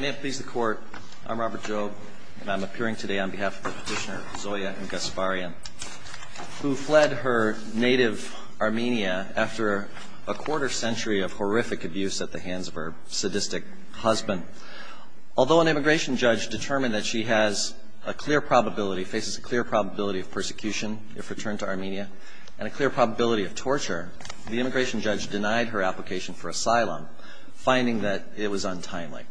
May it please the Court, I'm Robert Jobe and I'm appearing today on behalf of Petitioner Zoya Gasparyan, who fled her native Armenia after a quarter century of horrific abuse at the hands of her sadistic husband. Although an immigration judge determined that she has a clear probability, faces a clear probability of persecution if returned to Armenia, and a clear probability of torture, the immigration judge denied her application for asylum, finding that it was untimely.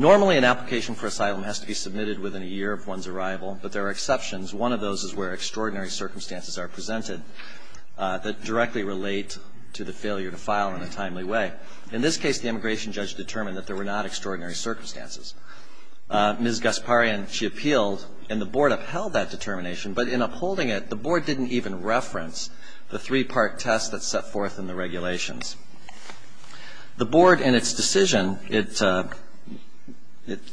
Normally an application for asylum has to be submitted within a year of one's arrival, but there are exceptions. One of those is where extraordinary circumstances are presented that directly relate to the failure to file in a timely way. In this case, the immigration judge determined that there were not extraordinary circumstances. Ms. Gasparyan, she appealed, and the Board upheld that determination, but in upholding it, the Board didn't even reference the three-part test that's set forth in the regulations. The Board, in its decision, it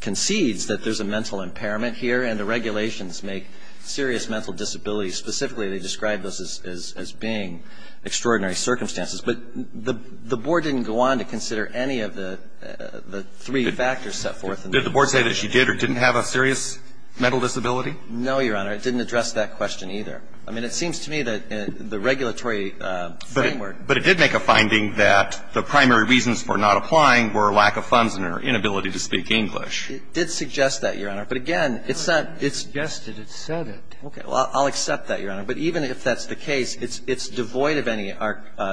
concedes that there's a mental impairment here, and the regulations make serious mental disabilities, specifically they describe those as being extraordinary circumstances. But the Board didn't go on to consider any of the three factors set forth in the regulations. Did the Board say that she did or didn't have a serious mental disability? No, Your Honor. It didn't address that question either. I mean, it seems to me that the regulatory framework. But it did make a finding that the primary reasons for not applying were a lack of funds and her inability to speak English. It did suggest that, Your Honor. But again, it's not – It suggested it, said it. Okay. Well, I'll accept that, Your Honor. But even if that's the case, it's devoid of any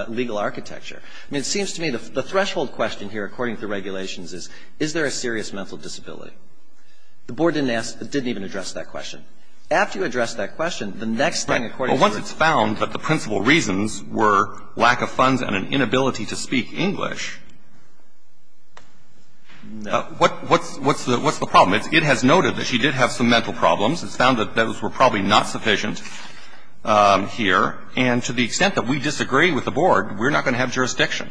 legal architecture. I mean, it seems to me the threshold question here, according to the regulations, is, is there a serious mental disability? The Board didn't ask – didn't even address that question. After you address that question, the next thing, according to the – Well, once it's found that the principal reasons were lack of funds and an inability to speak English, what's the problem? It has noted that she did have some mental problems. It's found that those were probably not sufficient here. And to the extent that we disagree with the Board, we're not going to have jurisdiction.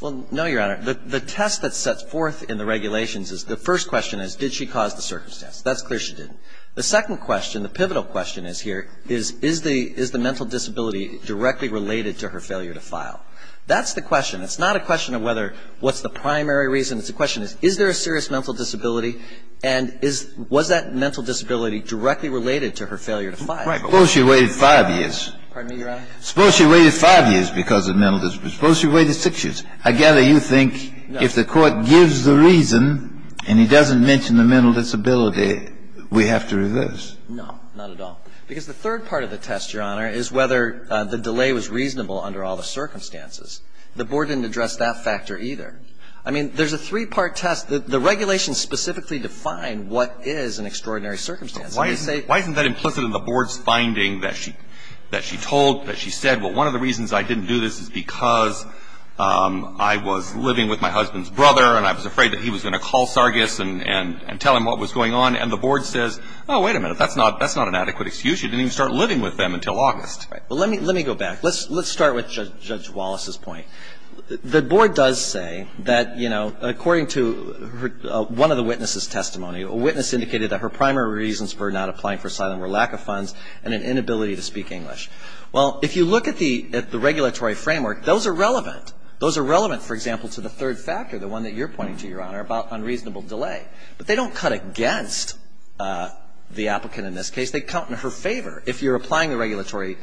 Well, no, Your Honor. The test that's set forth in the regulations is – the first question is, did she cause the circumstance? That's clear she didn't. The second question, the pivotal question is here, is, is the – is the mental disability directly related to her failure to file? That's the question. It's not a question of whether – what's the primary reason. It's a question of, is there a serious mental disability? And is – was that mental disability directly related to her failure to file? Suppose she waited five years. Pardon me, Your Honor? Suppose she waited five years because of mental – suppose she waited six years. I gather you think if the Court gives the reason and he doesn't mention the mental disability, we have to reverse. No, not at all. Because the third part of the test, Your Honor, is whether the delay was reasonable under all the circumstances. The Board didn't address that factor either. I mean, there's a three-part test. The regulations specifically define what is an extraordinary circumstance. Why isn't that implicit in the Board's finding that she – that she told – that she said, well, one of the reasons I didn't do this is because I was living with my husband's brother and I was afraid that he was going to call Sargis and tell him what was going on. And the Board says, oh, wait a minute. That's not an adequate excuse. You didn't even start living with them until August. Right. Well, let me go back. Let's start with Judge Wallace's point. The Board does say that, you know, according to one of the witnesses' testimony, a witness indicated that her primary reasons for not applying for asylum were lack of funds and an inability to speak English. Well, if you look at the – at the regulatory framework, those are relevant. Those are relevant, for example, to the third factor, the one that you're pointing to, Your Honor, about unreasonable delay. But they don't cut against the applicant in this case. They count in her favor if you're applying the regulatory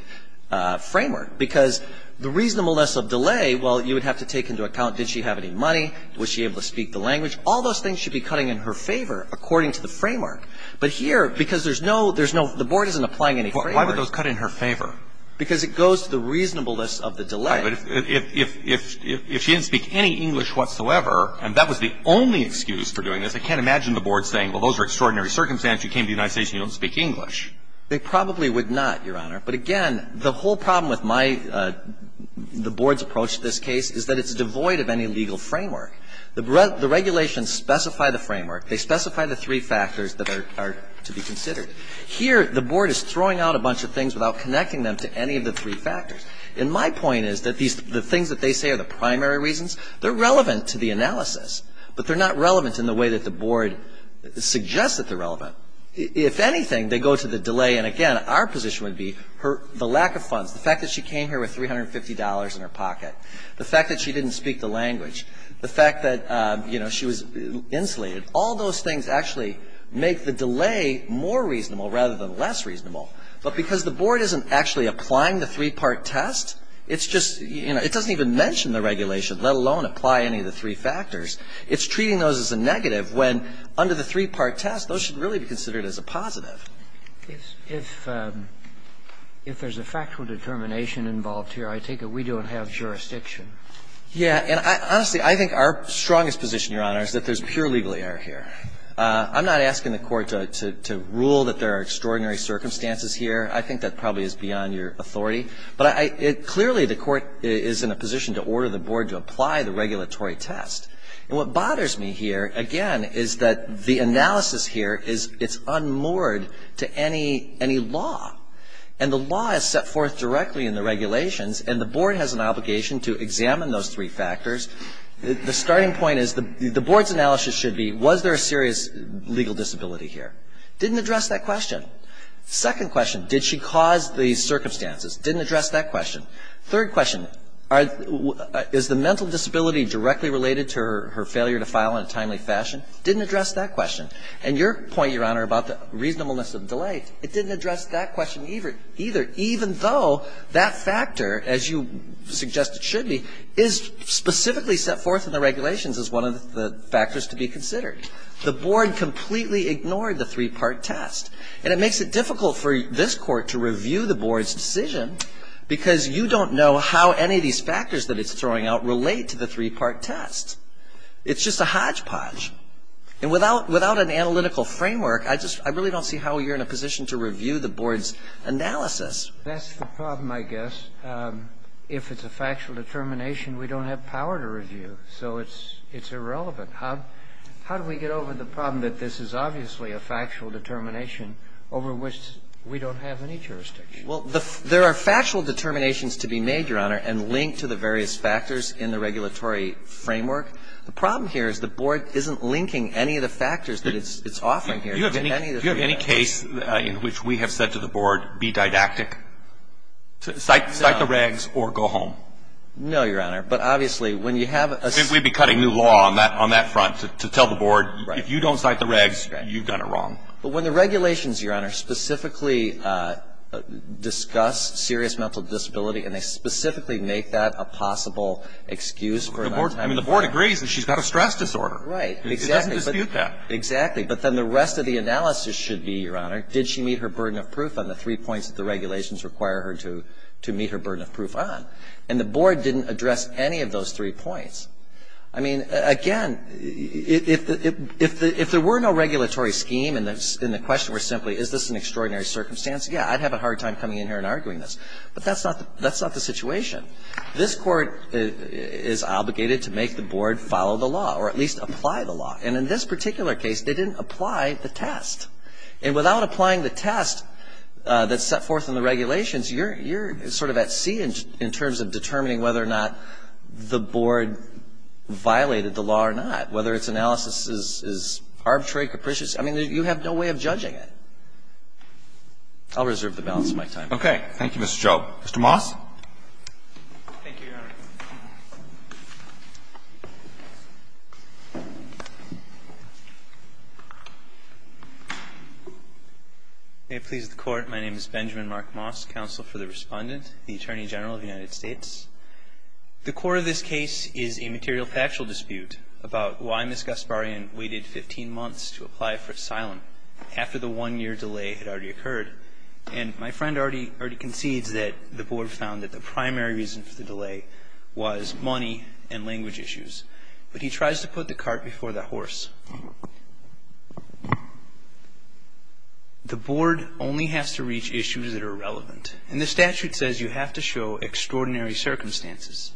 framework. But here, because the reasonableness of delay, well, you would have to take into account, did she have any money? Was she able to speak the language? All those things should be cutting in her favor according to the framework. But here, because there's no – there's no – the Board isn't applying any framework. Why would those cut in her favor? Because it goes to the reasonableness of the delay. Right. But if she didn't speak any English whatsoever, and that was the only excuse for doing this, I can't imagine the Board saying, well, those are extraordinary circumstances. You came to the United States and you don't speak English. They probably would not, Your Honor. But again, the whole problem with my – the Board's approach to this case is that it's devoid of any legal framework. The regulations specify the framework. They specify the three factors that are to be considered. Here, the Board is throwing out a bunch of things without connecting them to any of the three factors. And my point is that these – the things that they say are the primary reasons, they're relevant to the analysis, but they're not relevant in the way that the Board suggests that they're relevant. If anything, they go to the delay, and again, our position would be the lack of funds. The fact that she came here with $350 in her pocket. The fact that she didn't speak the language. The fact that, you know, she was insulated. All those things actually make the delay more reasonable rather than less reasonable. But because the Board isn't actually applying the three-part test, it's just – you know, it doesn't even mention the regulation, let alone apply any of the three factors. It's treating those as a negative when under the three-part test, those should really be considered as a positive. If there's a factual determination involved here, I take it we don't have jurisdiction. Yeah. And honestly, I think our strongest position, Your Honor, is that there's pure legal error here. I'm not asking the Court to rule that there are extraordinary circumstances here. I think that probably is beyond your authority. But clearly, the Court is in a position to order the Board to apply the regulatory test. And what bothers me here, again, is that the analysis here is – it's unmoored to any law. And the law is set forth directly in the regulations, and the Board has an obligation to examine those three factors. The starting point is – the Board's analysis should be, was there a serious legal disability here? Didn't address that question. Second question, did she cause the circumstances? Didn't address that question. Third question, is the mental disability directly related to her failure to file in a timely fashion? Didn't address that question. And your point, Your Honor, about the reasonableness of the delay, it didn't address that question either. Even though that factor, as you suggest it should be, is specifically set forth in the regulations as one of the factors to be considered. The Board completely ignored the three-part test. And it makes it difficult for this Court to review the Board's decision because you don't know how any of these factors that it's throwing out relate to the three-part test. It's just a hodgepodge. And without an analytical framework, I really don't see how you're in a position to review the Board's analysis. That's the problem, I guess. If it's a factual determination, we don't have power to review. So it's irrelevant. How do we get over the problem that this is obviously a factual determination over which we don't have any jurisdiction? Well, there are factual determinations to be made, Your Honor, and linked to the various factors in the regulatory framework. The problem here is the Board isn't linking any of the factors that it's offering here. Do you have any case in which we have said to the Board, be didactic, cite the regs, or go home? No, Your Honor. But obviously, when you have a ---- I think we'd be cutting new law on that front to tell the Board, if you don't cite the regs, you've done it wrong. But when the regulations, Your Honor, specifically discuss serious mental disability and they specifically make that a possible excuse for a long time ---- I mean, the Board agrees that she's got a stress disorder. Right. It doesn't dispute that. Exactly. But then the rest of the analysis should be, Your Honor, did she meet her burden of proof on the three points that the regulations require her to meet her burden of proof on? And the Board didn't address any of those three points. I mean, again, if there were no regulatory scheme and the question were simply, is this an extraordinary circumstance, yeah, I'd have a hard time coming in here and arguing this. But that's not the situation. This Court is obligated to make the Board follow the law or at least apply the law. And in this particular case, they didn't apply the test. And without applying the test that's set forth in the regulations, you're sort of at sea in terms of determining whether or not the Board violated the law or not, whether its analysis is arbitrary, capricious. I mean, you have no way of judging it. I'll reserve the balance of my time. Okay. Thank you, Mr. Joe. Mr. Moss. Thank you, Your Honor. May it please the Court, my name is Benjamin Mark Moss, counsel for the Respondent. The Attorney General of the United States. The core of this case is a material factual dispute about why Ms. Gasparian waited 15 months to apply for asylum after the one-year delay had already occurred. And my friend already concedes that the Board found that the primary reason for the delay was money and language issues. But he tries to put the cart before the horse. The Board only has to reach issues that are relevant. And the statute says you have to show extraordinary circumstances.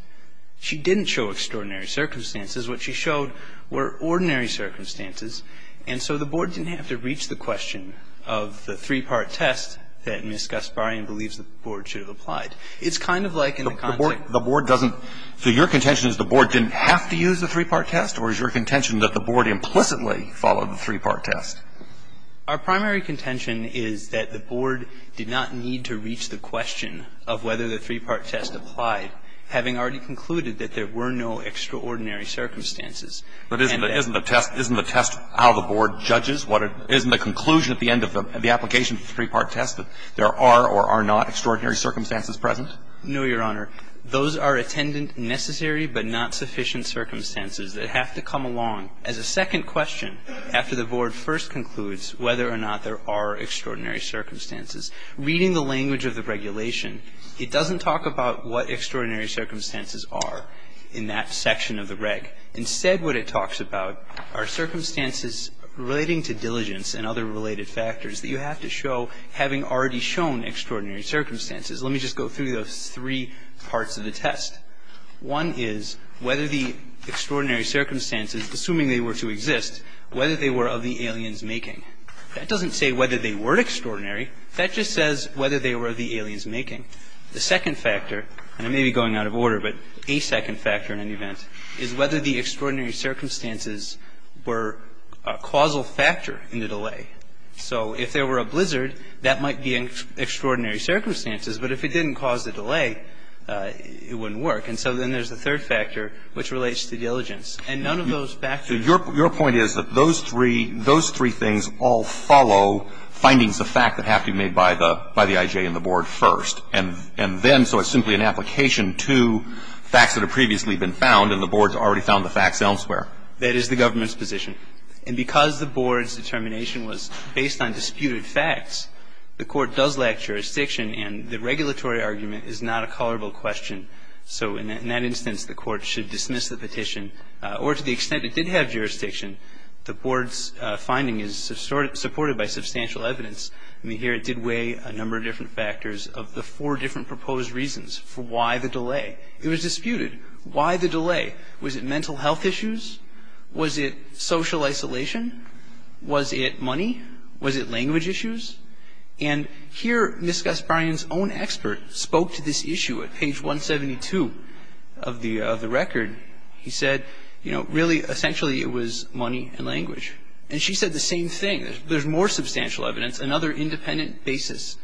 She didn't show extraordinary circumstances. What she showed were ordinary circumstances. And so the Board didn't have to reach the question of the three-part test that Ms. Gasparian believes the Board should have applied. It's kind of like in the context of the Board doesn't so your contention is the Board didn't have to use the three-part test or is your contention that the Board implicitly followed the three-part test? Our primary contention is that the Board did not need to reach the question of whether the three-part test applied, having already concluded that there were no extraordinary circumstances. But isn't the test how the Board judges? Isn't the conclusion at the end of the application of the three-part test that there are or are not extraordinary circumstances present? No, Your Honor. Those are attendant necessary but not sufficient circumstances that have to come along. As a second question, after the Board first concludes whether or not there are extraordinary circumstances, reading the language of the regulation, it doesn't talk about what extraordinary circumstances are in that section of the reg. Instead, what it talks about are circumstances relating to diligence and other related factors that you have to show having already shown extraordinary circumstances. Let me just go through those three parts of the test. One is whether the extraordinary circumstances, assuming they were to exist, whether they were of the alien's making. That doesn't say whether they were extraordinary. That just says whether they were of the alien's making. The second factor, and I may be going out of order, but a second factor in any event, is whether the extraordinary circumstances were a causal factor in the delay. So if there were a blizzard, that might be extraordinary circumstances, but if it didn't cause a delay, it wouldn't work. And so then there's the third factor, which relates to diligence. And none of those factors. Your point is that those three things all follow findings of fact that have to be made by the I.J. and the Board first. And then, so it's simply an application to facts that have previously been found, and the Board has already found the facts elsewhere. That is the government's position. And because the Board's determination was based on disputed facts, the Court does lack jurisdiction, and the regulatory argument is not a colorable question. So in that instance, the Court should dismiss the petition, or to the extent it did have jurisdiction, the Board's finding is supported by substantial evidence. I mean, here it did weigh a number of different factors of the four different proposed reasons for why the delay. It was disputed. Why the delay? Was it mental health issues? Was it social isolation? Was it money? Was it language issues? And here Ms. Gasparian's own expert spoke to this issue at page 172 of the record. He said, you know, really, essentially, it was money and language. And she said the same thing. There's more substantial evidence, another independent basis.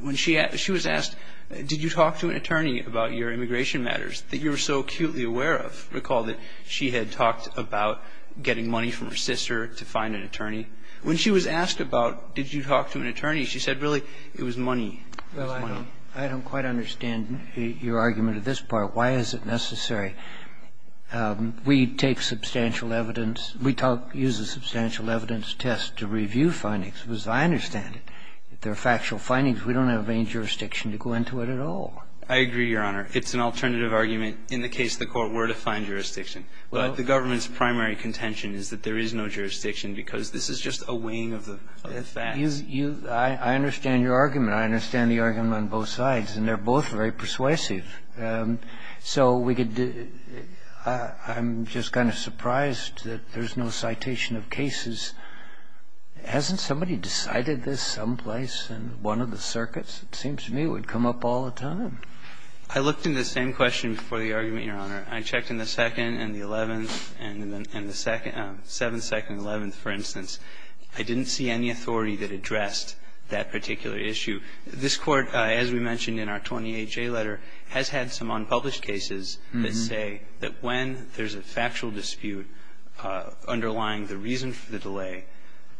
When she was asked, did you talk to an attorney about your immigration matters that you were so acutely aware of? Recall that she had talked about getting money from her sister to find an attorney. When she was asked about, did you talk to an attorney, she said, really, it was money. It was money. Well, I don't quite understand your argument at this part. Why is it necessary? We take substantial evidence. We use a substantial evidence test to review findings. As I understand it, if there are factual findings, we don't have any jurisdiction to go into it at all. I agree, Your Honor. It's an alternative argument. In the case of the Court, we're to find jurisdiction. But the government's primary contention is that there is no jurisdiction because this is just a weighing of the facts. I understand your argument. I understand the argument on both sides. And they're both very persuasive. So I'm just kind of surprised that there's no citation of cases. Hasn't somebody decided this someplace in one of the circuits? It seems to me it would come up all the time. I looked in the same question before the argument, Your Honor. I checked in the 2nd and the 11th and the 7th, 2nd and 11th, for instance. I didn't see any authority that addressed that particular issue. This Court, as we mentioned in our 28-J letter, has had some unpublished cases that say that when there's a factual dispute underlying the reason for the delay,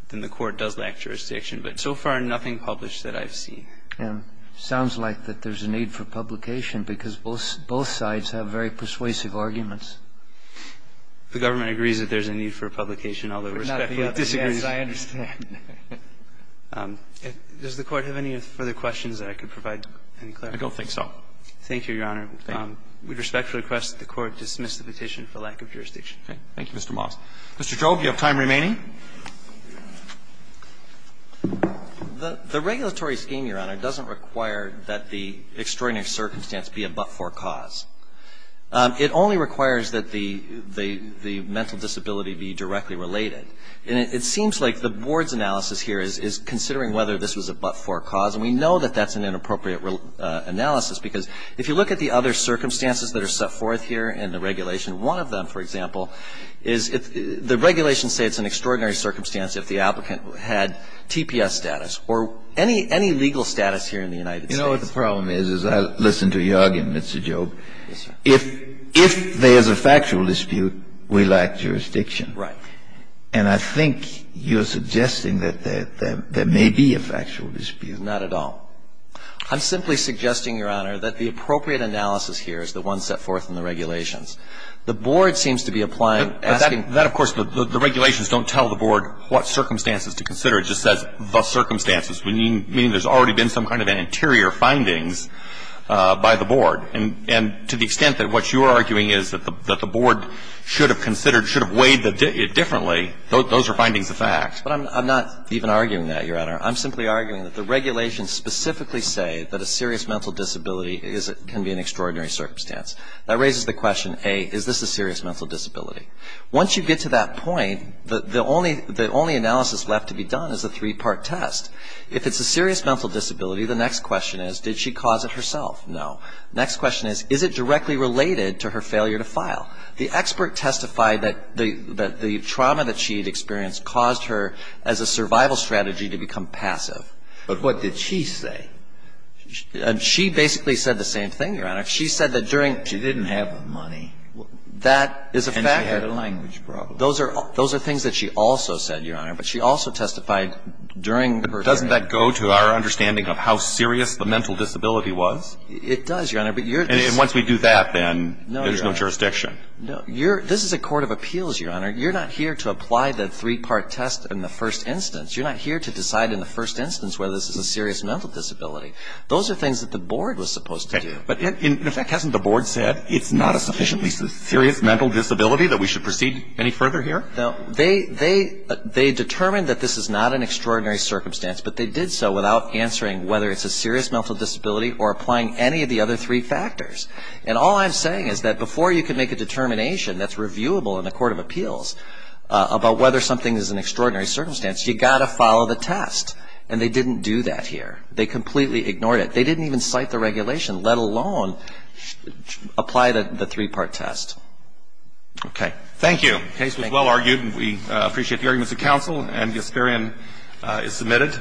then the Court does lack jurisdiction. But so far, nothing published that I've seen. And it sounds like that there's a need for publication because both sides have very persuasive arguments. The government agrees that there's a need for publication, although it respectfully disagrees. Yes, I understand. Does the Court have any further questions that I could provide any clarity on? I don't think so. Thank you, Your Honor. We respectfully request that the Court dismiss the petition for lack of jurisdiction. Thank you, Mr. Moss. Mr. Jobe, you have time remaining. The regulatory scheme, Your Honor, doesn't require that the extraordinary circumstance be a but-for cause. It only requires that the mental disability be directly related. And it seems like the Board's analysis here is considering whether this was a but-for cause, and we know that that's an inappropriate analysis because if you look at the other circumstances that are set forth here in the regulation, one of them, for example, is the regulations say it's an extraordinary circumstance if the applicant had TPS status or any legal status here in the United States. You know what the problem is? As I listen to you argue, Mr. Jobe, if there's a factual dispute, we lack jurisdiction. Right. And I think you're suggesting that there may be a factual dispute. Not at all. I'm simply suggesting, Your Honor, that the appropriate analysis here is the one set forth in the regulations. The Board seems to be applying, asking. But that, of course, the regulations don't tell the Board what circumstances to consider. It just says the circumstances, meaning there's already been some kind of an interior findings by the Board. And to the extent that what you're arguing is that the Board should have considered or should have weighed it differently, those are findings of fact. But I'm not even arguing that, Your Honor. I'm simply arguing that the regulations specifically say that a serious mental disability can be an extraordinary circumstance. That raises the question, A, is this a serious mental disability? Once you get to that point, the only analysis left to be done is a three-part test. If it's a serious mental disability, the next question is, did she cause it herself? No. Next question is, is it directly related to her failure to file? The expert testified that the trauma that she had experienced caused her, as a survival strategy, to become passive. But what did she say? She basically said the same thing, Your Honor. She said that during She didn't have the money. That is a factor. And she had a language problem. Those are things that she also said, Your Honor. But she also testified during her term. But doesn't that go to our understanding of how serious the mental disability was? It does, Your Honor. And once we do that, then there's no jurisdiction. No, Your Honor. This is a court of appeals, Your Honor. You're not here to apply the three-part test in the first instance. You're not here to decide in the first instance whether this is a serious mental disability. Those are things that the Board was supposed to do. But in effect, hasn't the Board said it's not a sufficiently serious mental disability that we should proceed any further here? No. They determined that this is not an extraordinary circumstance, but they did so without answering whether it's a serious mental disability or applying any of the other three factors. And all I'm saying is that before you can make a determination that's reviewable in a court of appeals about whether something is an extraordinary circumstance, you've got to follow the test. And they didn't do that here. They completely ignored it. They didn't even cite the regulation, let alone apply the three-part test. Okay. Thank you. The case was well argued, and we appreciate the arguments of counsel. And Gasparian is submitted.